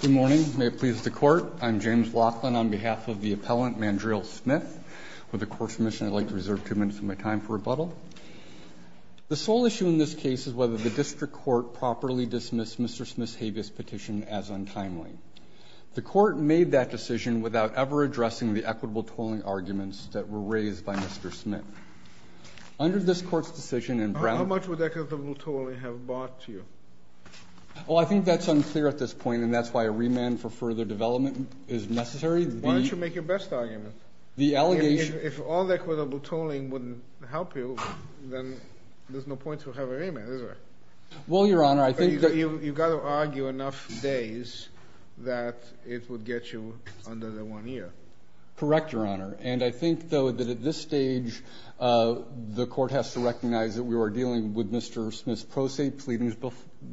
Good morning. May it please the court. I'm James Laughlin on behalf of the appellant Mandreel Smith. With the court's permission, I'd like to reserve two minutes of my time for rebuttal. The sole issue in this case is whether the district court properly dismissed Mr. Smith's habeas petition as untimely. The court made that decision without ever addressing the equitable tolling arguments that were raised by Mr. Smith. Under this court's decision in Brown... How much would equitable tolling have bought you? Well, I think that's unclear at this point, and that's why a remand for further development is necessary. Why don't you make your best argument? The allegation... If all equitable tolling wouldn't help you, then there's no point to have a remand, is there? Well, Your Honor, I think that... You've got to argue enough days that it would get you under the one year. Correct, Your Honor. And I think, though, that at this stage, the court has to recognize that we are dealing with Mr. Smith's pro se pleadings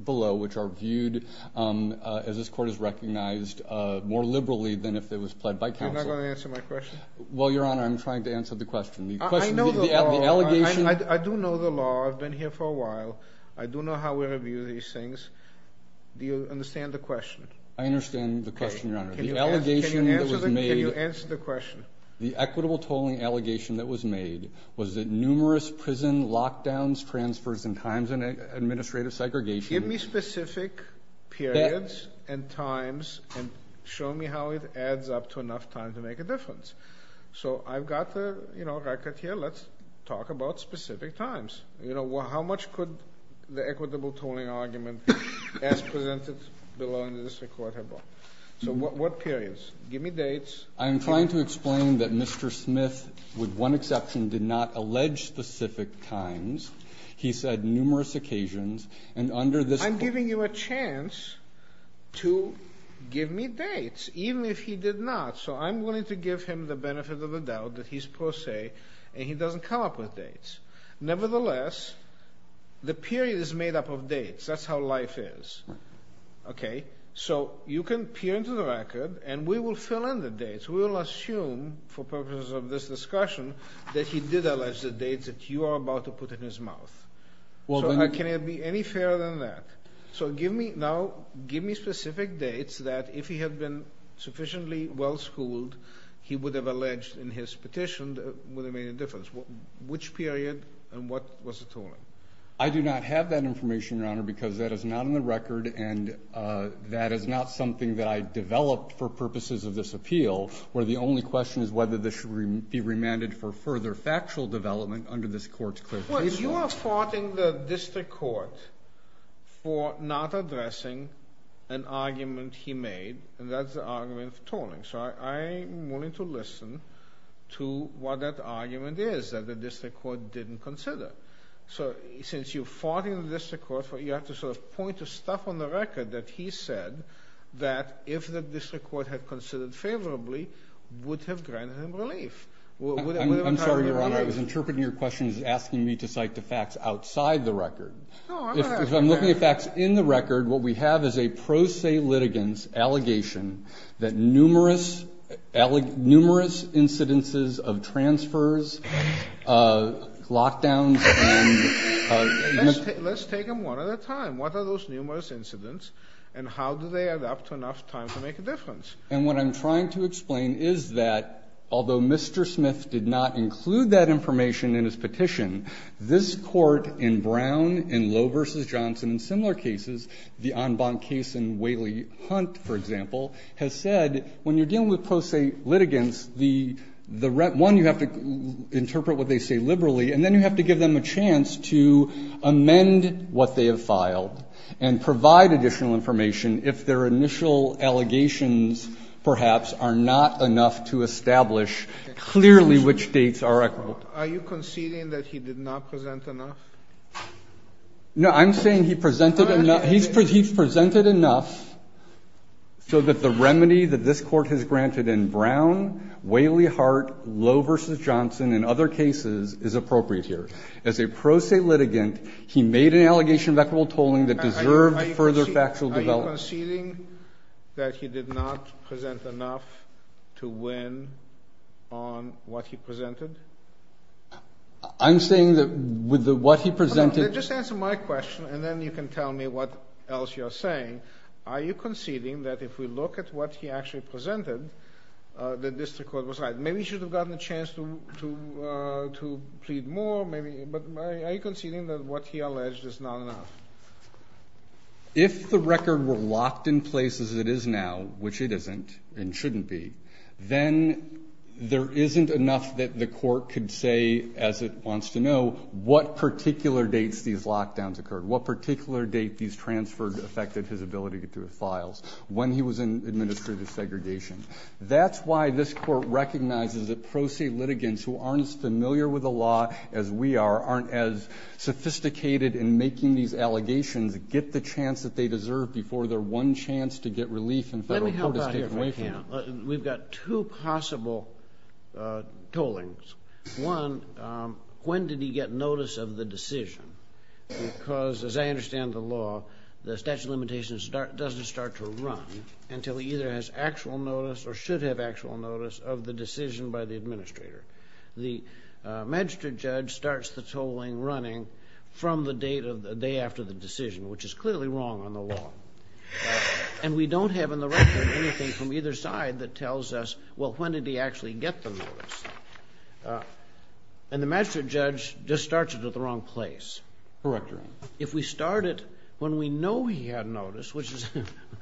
below, which are viewed, as this court has recognized, more liberally than if it was pled by counsel. You're not going to answer my question? Well, Your Honor, I'm trying to answer the question. I know the law. The allegation... I do know the law. I've been here for a while. I do know how we review these things. Do you understand the question? I understand the question, Your Honor. The allegation that was made... Can you answer the question? The equitable tolling allegation that was made was that numerous prison lockdowns, transfers, and times of administrative segregation... Give me specific periods and times and show me how it adds up to enough time to make a difference. So I've got the record here. Let's talk about specific times. How much could the equitable tolling argument as presented below in the district court have brought? So what periods? Give me dates. I'm trying to explain that Mr. Smith, with one exception, did not allege specific times. He said numerous occasions, and under this... I'm giving you a chance to give me dates, even if he did not. So I'm willing to give him the benefit of the doubt that he's pro se and he doesn't come up with dates. Nevertheless, the period is made up of dates. That's how life is. Right. Okay? So you can peer into the record, and we will fill in the dates. We will assume, for purposes of this discussion, that he did allege the dates that you are about to put in his mouth. So can it be any fairer than that? So now give me specific dates that, if he had been sufficiently well-schooled, he would have alleged in his petition would have made a difference. Which period and what was the tolling? I do not have that information, Your Honor, because that is not in the record, and that is not something that I developed for purposes of this appeal, where the only question is whether this should be remanded for further factual development under this court's clear principle. Well, you are faulting the district court for not addressing an argument he made, and that's the argument of tolling. So I'm willing to listen to what that argument is that the district court didn't consider. So since you're faulting the district court, you have to sort of point to stuff on the record that he said that, if the district court had considered favorably, would have granted him relief. I'm sorry, Your Honor. I was interpreting your question as asking me to cite the facts outside the record. No, I'm not asking that. If I'm looking at facts in the record, what we have is a pro se litigant's allegation that numerous incidences of transfers, lockdowns, and you know ---- Let's take them one at a time. What are those numerous incidents, and how do they adapt to enough time to make a difference? And what I'm trying to explain is that, although Mr. Smith did not include that information in his petition, this Court in Brown, in Lowe v. Johnson, and similar cases, the Anban case in Whaley Hunt, for example, has said, when you're dealing with pro se litigants, the ---- one, you have to interpret what they say liberally, and then you have to give them a chance to amend what they have filed and provide additional information if their initial allegations perhaps are not enough to establish clearly which dates are equitable. Are you conceding that he did not present enough? No, I'm saying he presented enough. He's presented enough so that the remedy that this Court has granted in Brown, Whaley Hunt, Lowe v. Johnson, and other cases is appropriate here. As a pro se litigant, he made an allegation of equitable tolling that deserved further factual development. Are you conceding that he did not present enough to win on what he presented? I'm saying that with what he presented ---- What else you are saying. Are you conceding that if we look at what he actually presented, that this Court was right? Maybe he should have gotten a chance to plead more, maybe. But are you conceding that what he alleged is not enough? If the record were locked in place as it is now, which it isn't and shouldn't be, then there isn't enough that the Court could say, as it wants to know, what particular dates these lockdowns occurred. What particular date these transferred affected his ability to get to his files when he was in administrative segregation. That's why this Court recognizes that pro se litigants who aren't as familiar with the law as we are, aren't as sophisticated in making these allegations get the chance that they deserve before their one chance to get relief in federal court is taken away from them. We've got two possible tollings. One, when did he get notice of the decision? Because, as I understand the law, the statute of limitations doesn't start to run until he either has actual notice or should have actual notice of the decision by the administrator. The magistrate judge starts the tolling running from the date of the day after the decision, which is clearly wrong on the law. And we don't have in the record anything from either side that tells us, well, when did he actually get the notice? And the magistrate judge just starts it at the wrong place. Correct me. If we start it when we know he had notice, which is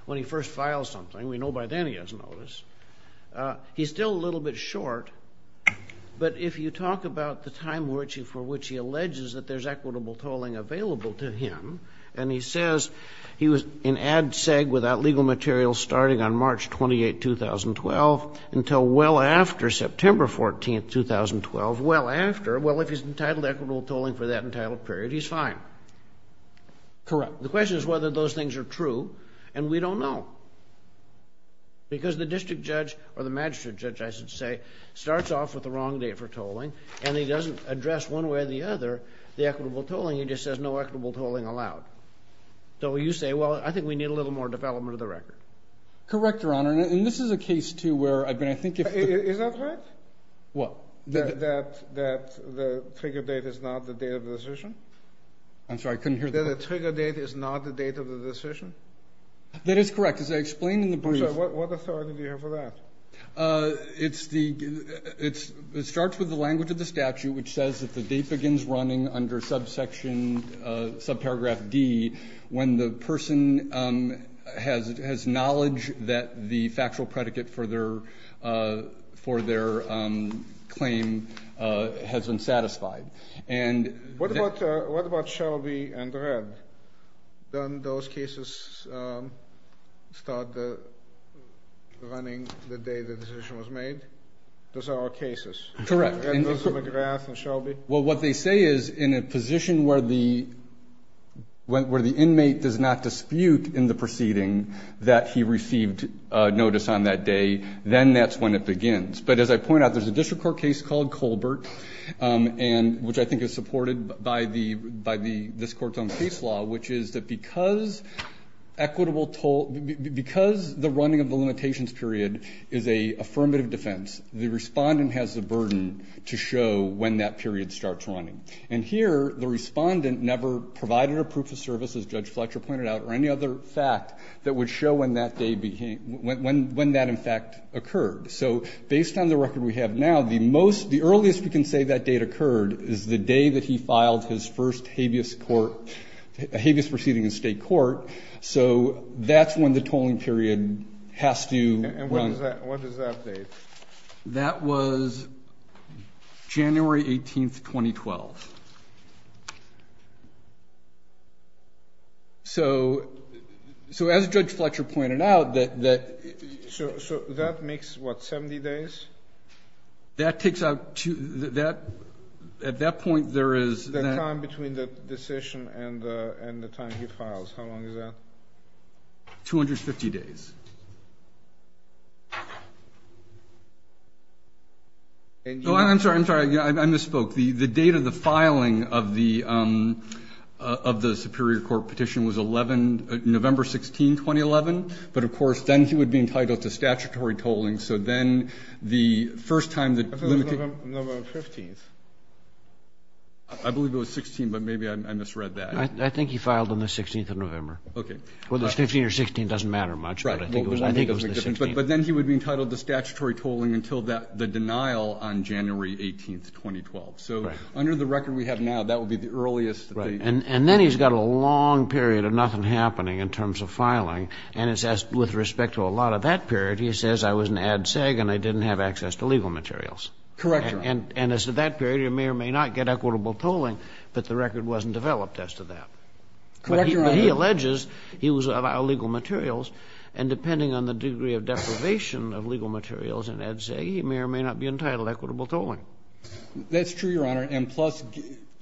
when he first files something, we know by then he has notice, he's still a little bit short. But if you talk about the time for which he alleges that there's equitable tolling available to him, and he says he was in ad seg without legal materials starting on March 28, 2012 until well after September 14, 2012, well after, well, if he's entitled to equitable tolling for that entitled period, he's fine. Correct. The question is whether those things are true, and we don't know. Because the district judge, or the magistrate judge, I should say, starts off with the wrong date for tolling, and he doesn't address one way or the other the equitable tolling. He just says no equitable tolling allowed. So you say, well, I think we need a little more development of the record. Correct, Your Honor. And this is a case, too, where I think if the ---- Is that right? What? That the trigger date is not the date of the decision? I'm sorry. I couldn't hear that. That the trigger date is not the date of the decision? That is correct. As I explained in the brief ---- I'm sorry. What authority do you have for that? It's the ---- it starts with the language of the statute, which says that the date factual predicate for their claim has been satisfied. And ---- What about Shelby and Red? Don't those cases start running the day the decision was made? Those are our cases. Correct. And those are McGrath and Shelby? Well, what they say is in a position where the inmate does not dispute in the proceeding that he received notice on that day, then that's when it begins. But as I point out, there's a district court case called Colbert, which I think is supported by this Court's own case law, which is that because equitable toll ---- because the running of the limitations period is an affirmative defense, the respondent has the burden to show when that period starts running. And here the respondent never provided a proof of service, as Judge Fletcher pointed out, or any other fact that would show when that day became ---- when that, in fact, occurred. So based on the record we have now, the most ---- the earliest we can say that date occurred is the day that he filed his first habeas court ---- habeas proceeding in State court. So that's when the tolling period has to run. And what is that date? That was January 18, 2012. So as Judge Fletcher pointed out, that ---- So that makes, what, 70 days? That takes out two ---- at that point there is ---- The time between the decision and the time he files. How long is that? 250 days. I'm sorry. I misspoke. The date of the filing of the Superior Court petition was 11 ---- November 16, 2011. But, of course, then he would be entitled to statutory tolling. So then the first time that ---- I thought it was November 15. I believe it was 16, but maybe I misread that. I think he filed on the 16th of November. Okay. Whether it's 15 or 16 doesn't matter much, but I think it was the 16th. But then he would be entitled to statutory tolling until the denial on January 18, 2012. So under the record we have now, that would be the earliest ---- And then he's got a long period of nothing happening in terms of filing, and it says with respect to a lot of that period, he says, I was an ad seg and I didn't have access to legal materials. Correct Your Honor. And as to that period, he may or may not get equitable tolling, but the record wasn't developed as to that. Correct Your Honor. But he alleges he was of legal materials, and depending on the degree of deprivation of legal materials and ad seg, he may or may not be entitled to equitable tolling. That's true, Your Honor. And plus,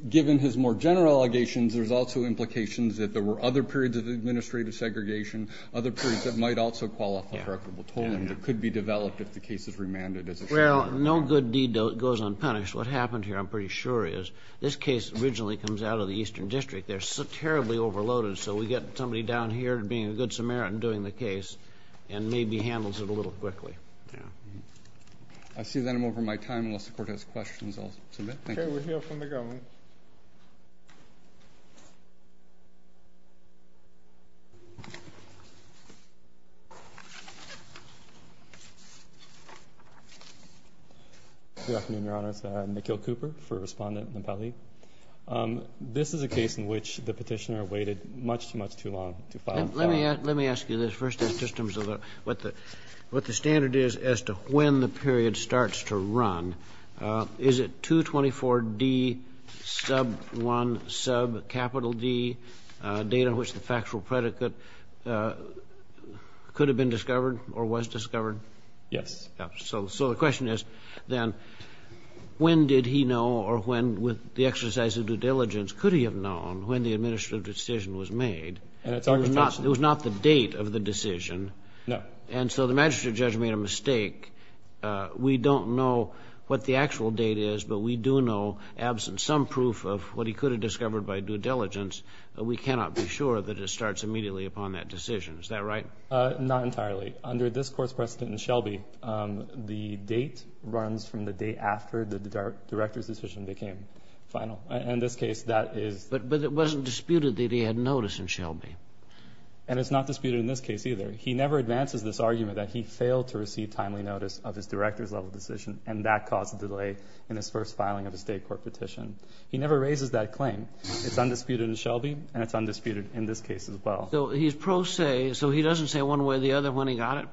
given his more general allegations, there's also implications that there were other periods of administrative segregation, other periods that might also qualify for equitable tolling that could be developed if the case is remanded as a statute. Well, no good deed goes unpunished. What happened here, I'm pretty sure is, this case originally comes out of the Eastern District. They're terribly overloaded, so we get somebody down here being a good Samaritan doing the case and maybe handles it a little quickly. I see that I'm over my time. Unless the Court has questions, I'll submit. Thank you. Okay. We'll hear from the government. Good afternoon, Your Honors. I'm Nikhil Cooper, First Respondent in the Petalik. This is a case in which the Petitioner waited much too much too long to file. Let me ask you this. First, just in terms of what the standard is as to when the period starts to run, is it 224D, sub 1, sub capital D, date on which the factual predicate could have been discovered or was discovered? Yes. So the question is, then, when did he know or when, with the exercise of due diligence, could he have known when the administrative decision was made? It was not the date of the decision. No. And so the magistrate judge made a mistake. We don't know what the actual date is, but we do know, absent some proof of what he could have discovered by due diligence, we cannot be sure that it starts immediately upon that decision. Is that right? Not entirely. Under this Court's precedent in Shelby, the date runs from the day after the director's decision became final. In this case, that is... It wasn't disputed that he had notice in Shelby. And it's not disputed in this case either. He never advances this argument that he failed to receive timely notice of his director's level decision, and that caused a delay in his first filing of a State court petition. He never raises that claim. It's undisputed in Shelby, and it's undisputed in this case as well. So he's pro se, so he doesn't say one way or the other when he got it?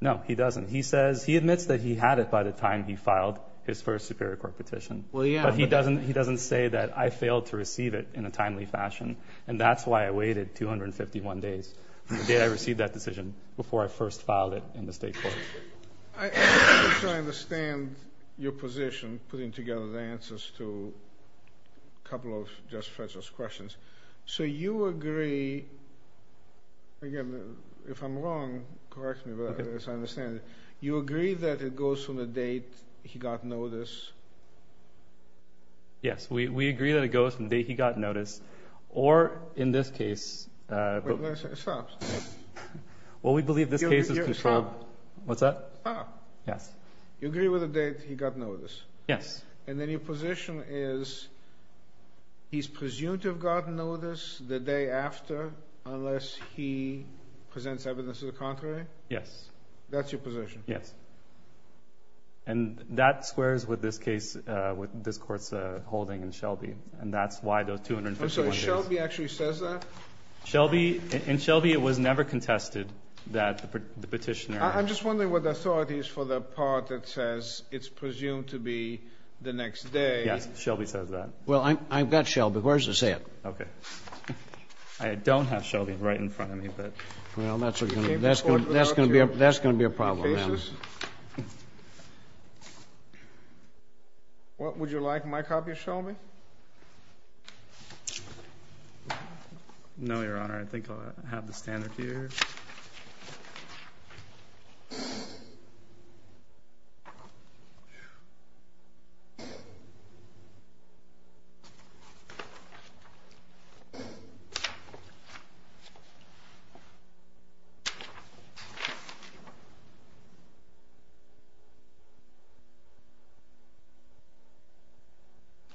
No, he doesn't. He admits that he had it by the time he filed his first Superior Court petition. Well, yeah. But he doesn't say that I failed to receive it in a timely fashion, and that's why I waited 251 days from the day I received that decision before I first filed it in the State court. I'm trying to understand your position, putting together the answers to a couple of just-fetchers questions. So you agree... Again, if I'm wrong, correct me as I understand it. You agree that it goes from the date he got notice. Yes. We agree that it goes from the day he got notice, or in this case... Wait a minute. Stop. Well, we believe this case is controlled... Stop. What's that? Stop. Yes. You agree with the date he got notice. Yes. And then your position is he's presumed to have gotten notice the day after unless he presents evidence to the contrary? Yes. That's your position. Yes. And that squares with this case, with this Court's holding in Shelby. And that's why those 251 days. I'm sorry. Shelby actually says that? Shelby... In Shelby, it was never contested that the petitioner... I'm just wondering what the authority is for the part that says it's presumed to be the next day. Yes. Shelby says that. Well, I've got Shelby. Where does it say it? Okay. I don't have Shelby right in front of me, but... Well, that's going to be a problem, then. Would you like my copy of Shelby? No, Your Honor. All right. I think I have the standard here.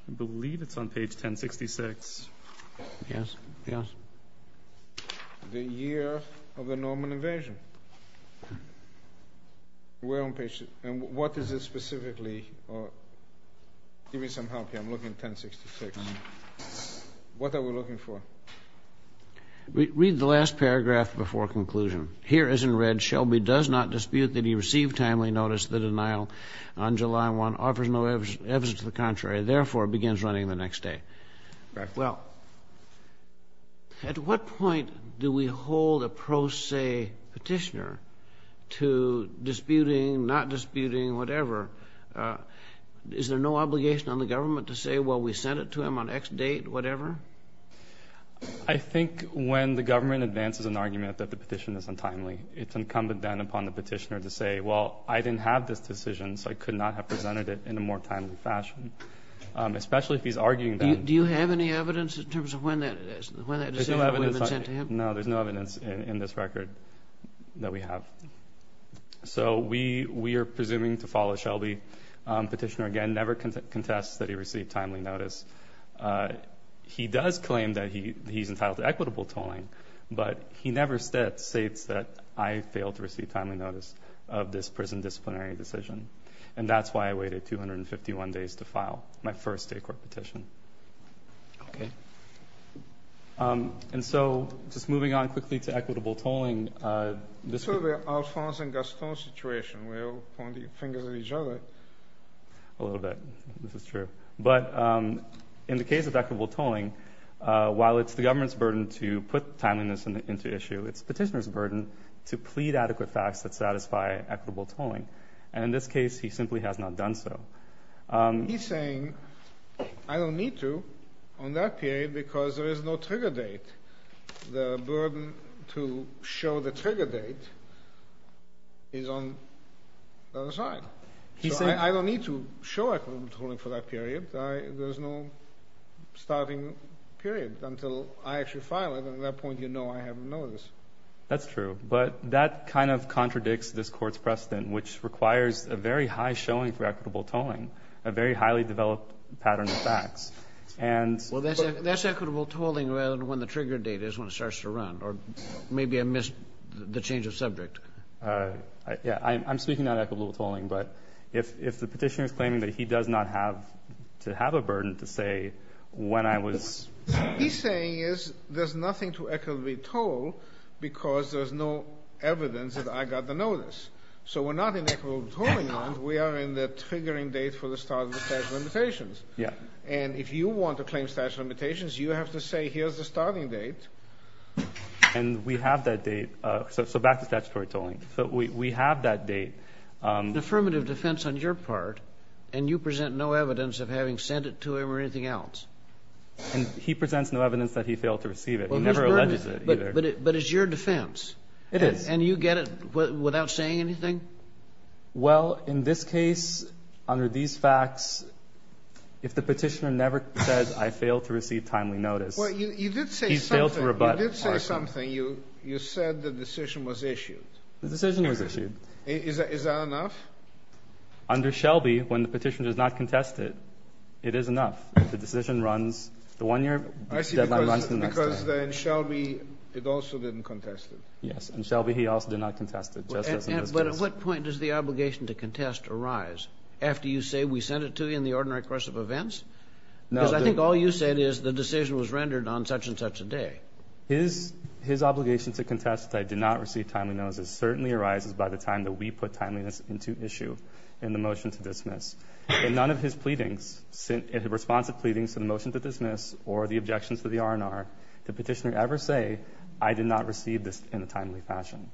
I believe it's on page 1066. Yes. Yes. The year of the Norman invasion. We're on page... And what is it specifically? Give me some help here. I'm looking at 1066. What are we looking for? Read the last paragraph before conclusion. Here as in red, Shelby does not dispute that he received timely notice of the denial on July 1, offers no evidence to the contrary, therefore begins running the next day. Correct. Well, at what point do we hold a pro se petitioner to disputing, not disputing, whatever? Is there no obligation on the government to say, well, we sent it to him on X date, whatever? I think when the government advances an argument that the petition is untimely, it's incumbent then upon the petitioner to say, well, I didn't have this decision, so I could not have presented it in a more timely fashion, especially if he's arguing that... Do you have any evidence in terms of when that decision would have been sent to him? No, there's no evidence in this record that we have. So we are presuming to follow Shelby. Petitioner, again, never contests that he received timely notice. He does claim that he's entitled to equitable tolling, but he never states that I failed to receive timely notice of this prison disciplinary decision, and that's why I waited 251 days to file my first state court petition. Okay. And so just moving on quickly to equitable tolling... It's sort of an Alphonse and Gaston situation. We're all pointing fingers at each other. A little bit. This is true. But in the case of equitable tolling, while it's the government's burden to put timeliness into issue, it's petitioner's burden to plead adequate facts that satisfy equitable tolling. And in this case, he simply has not done so. He's saying I don't need to on that period because there is no trigger date. The burden to show the trigger date is on the other side. So I don't need to show equitable tolling for that period. There's no starting period until I actually file it, and at that point, you know I have notice. That's true. But that kind of contradicts this Court's precedent, which requires a very high showing for equitable tolling, a very highly developed pattern of facts. And... Well, that's equitable tolling rather than when the trigger date is when it starts to run, or maybe I missed the change of subject. Yeah. I'm speaking not equitable tolling, but if the petitioner is claiming that he does not have to have a burden to say when I was... What he's saying is there's nothing to equitably toll because there's no evidence that I got the notice. So we're not in equitable tolling land. We are in the triggering date for the start of the statute of limitations. Yeah. And if you want to claim statute of limitations, you have to say here's the starting date. And we have that date. So back to statutory tolling. We have that date. It's an affirmative defense on your part, and you present no evidence of having sent it to him or anything else. And he presents no evidence that he failed to receive it. He never alleges it, either. But it's your defense. It is. And you get it without saying anything? Well, in this case, under these facts, if the petitioner never says I failed to receive timely notice. Well, you did say something. He's failed to rebut. You did say something. You said the decision was issued. The decision was issued. Is that enough? Under Shelby, when the petitioner does not contest it, it is enough. The decision runs. The one-year deadline runs to the next day. I see. Because in Shelby, it also didn't contest it. Yes. In Shelby, he also did not contest it, just as in this case. But at what point does the obligation to contest arise, after you say we sent it to you in the ordinary course of events? Because I think all you said is the decision was rendered on such-and-such a day. His obligation to contest that I did not receive timely notice certainly arises by the time that we put timeliness into issue in the motion to dismiss. In none of his pleadings, in response to pleadings to the motion to dismiss or the objections to the R&R, did the petitioner ever say I did not receive this in a timely fashion.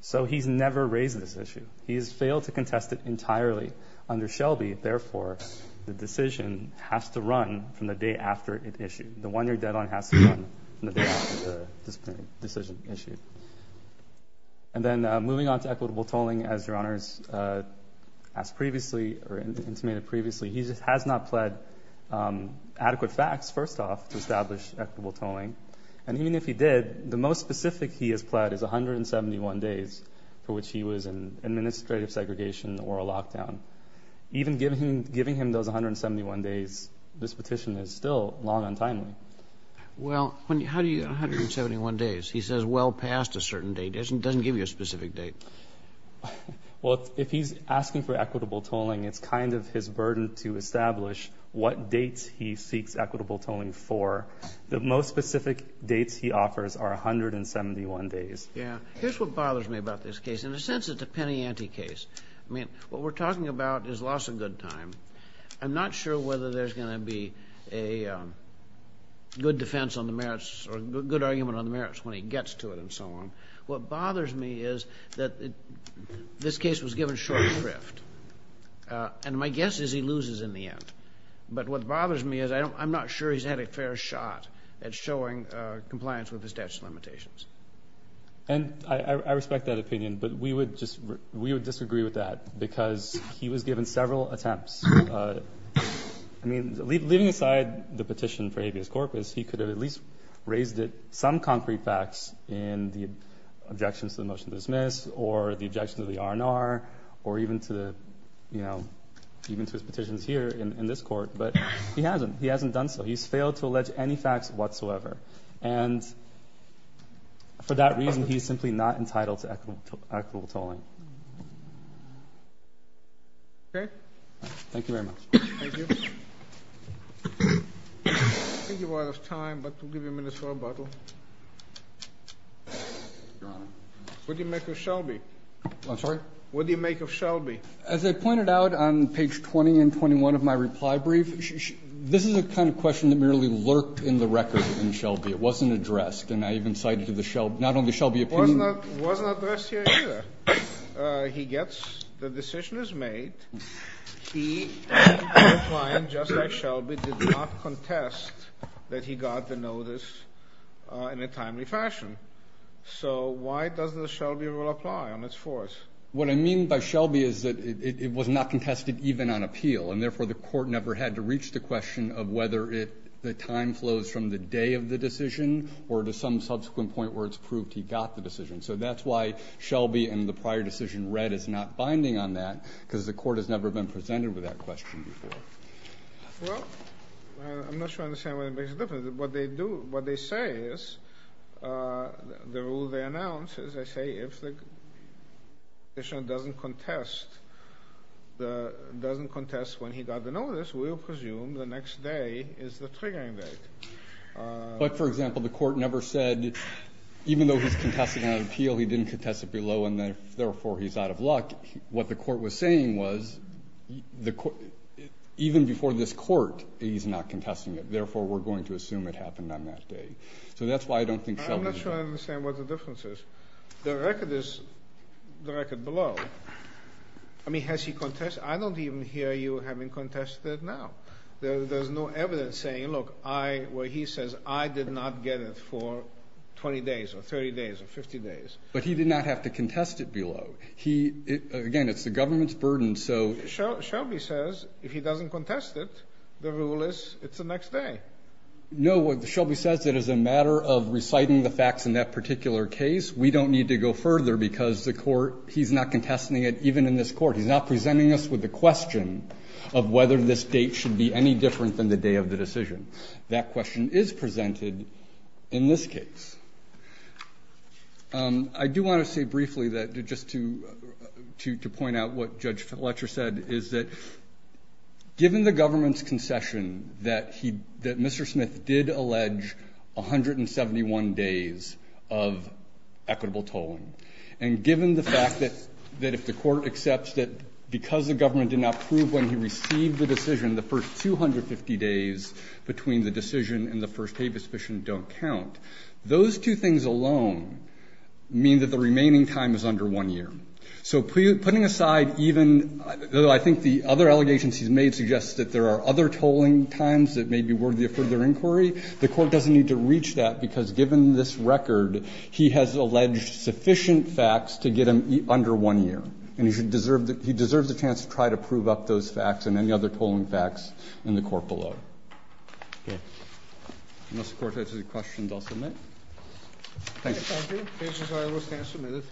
So he's never raised this issue. He has failed to contest it entirely. Under Shelby, therefore, the decision has to run from the day after it issued. The one-year deadline has to run from the day after the decision issued. And then moving on to equitable tolling, as Your Honors asked previously or intimated previously, he has not pled adequate facts, first off, to establish equitable tolling. And even if he did, the most specific he has pled is 171 days for which he was in administrative segregation or a lockdown. Even giving him those 171 days, this petition is still long on timely. Well, how do you get 171 days? He says well past a certain date. It doesn't give you a specific date. Well, if he's asking for equitable tolling, it's kind of his burden to establish what dates he seeks equitable tolling for. The most specific dates he offers are 171 days. Yeah. Here's what bothers me about this case. In a sense, it's a penny ante case. I mean, what we're talking about is loss of good time. I'm not sure whether there's going to be a good defense on the merits or a good argument on the merits when he gets to it and so on. What bothers me is that this case was given short shrift, and my guess is he loses in the end. But what bothers me is I'm not sure he's had a fair shot at showing compliance with the statute of limitations. And I respect that opinion, but we would just we would disagree with that because he was given several attempts. I mean, leaving aside the petition for habeas corpus, he could have at least raised some concrete facts in the objections to the motion to dismiss or the objections to the R&R or even to the, you know, even to his petitions here in this court. But he hasn't. He hasn't done so. He's failed to allege any facts whatsoever. And for that reason, he's simply not entitled to equitable tolling. Okay. Thank you very much. Thank you. I think we're out of time, but we'll give you a minute for rebuttal. Your Honor. What do you make of Shelby? I'm sorry? What do you make of Shelby? As I pointed out on page 20 and 21 of my reply brief, this is the kind of question that merely lurked in the record in Shelby. It wasn't addressed. And I even cited to the Shelby, not only Shelby opinion. It was not addressed here either. He gets the decision is made. He, just like Shelby, did not contest that he got the notice in a timely fashion. So why does the Shelby rule apply on its fourth? What I mean by Shelby is that it was not contested even on appeal. And, therefore, the court never had to reach the question of whether the time flows from the day of the decision or to some subsequent point where it's proved he got the decision. So that's why Shelby and the prior decision read as not binding on that, because the court has never been presented with that question before. Well, I'm not sure I understand what makes a difference. What they do, what they say is, the rule they announce is, they say if the petitioner doesn't contest when he got the notice, we'll presume the next day is the triggering date. But, for example, the court never said, even though he's contesting on appeal, he didn't contest it below, and, therefore, he's out of luck. What the court was saying was, even before this court, he's not contesting it. Therefore, we're going to assume it happened on that day. So that's why I don't think Shelby's right. I'm not sure I understand what the difference is. The record is, the record below, I mean, has he contested? I don't even hear you having contested now. There's no evidence saying, look, I, where he says, I did not get it for 20 days or 30 days or 50 days. But he did not have to contest it below. He, again, it's the government's burden, so. Sotomayor Shelby says, if he doesn't contest it, the rule is, it's the next day. No, what Shelby says, it is a matter of reciting the facts in that particular case. We don't need to go further because the court, he's not contesting it even in this court. He's not presenting us with a question of whether this date should be any different than the day of the decision. That question is presented in this case. I do want to say briefly that, just to point out what Judge Fletcher said, is that given the government's concession that he, that Mr. Smith did allege 171 days of equitable tolling, and given the fact that if the court accepts that because the government did not prove when he received the decision, the first 250 days between the decision and the first habeas fission don't count, those two things alone mean that the remaining time is under one year. So putting aside even, though I think the other allegations he's made suggest that there are other tolling times that may be worthy of further inquiry, the court doesn't need to reach that because, given this record, he has alleged sufficient facts to get him under one year. And he should deserve, he deserves a chance to try to prove up those facts and any other tolling facts in the court below. Okay. Unless the court has any questions, I'll submit. Thank you. Thank you. The cases are withstand submitted.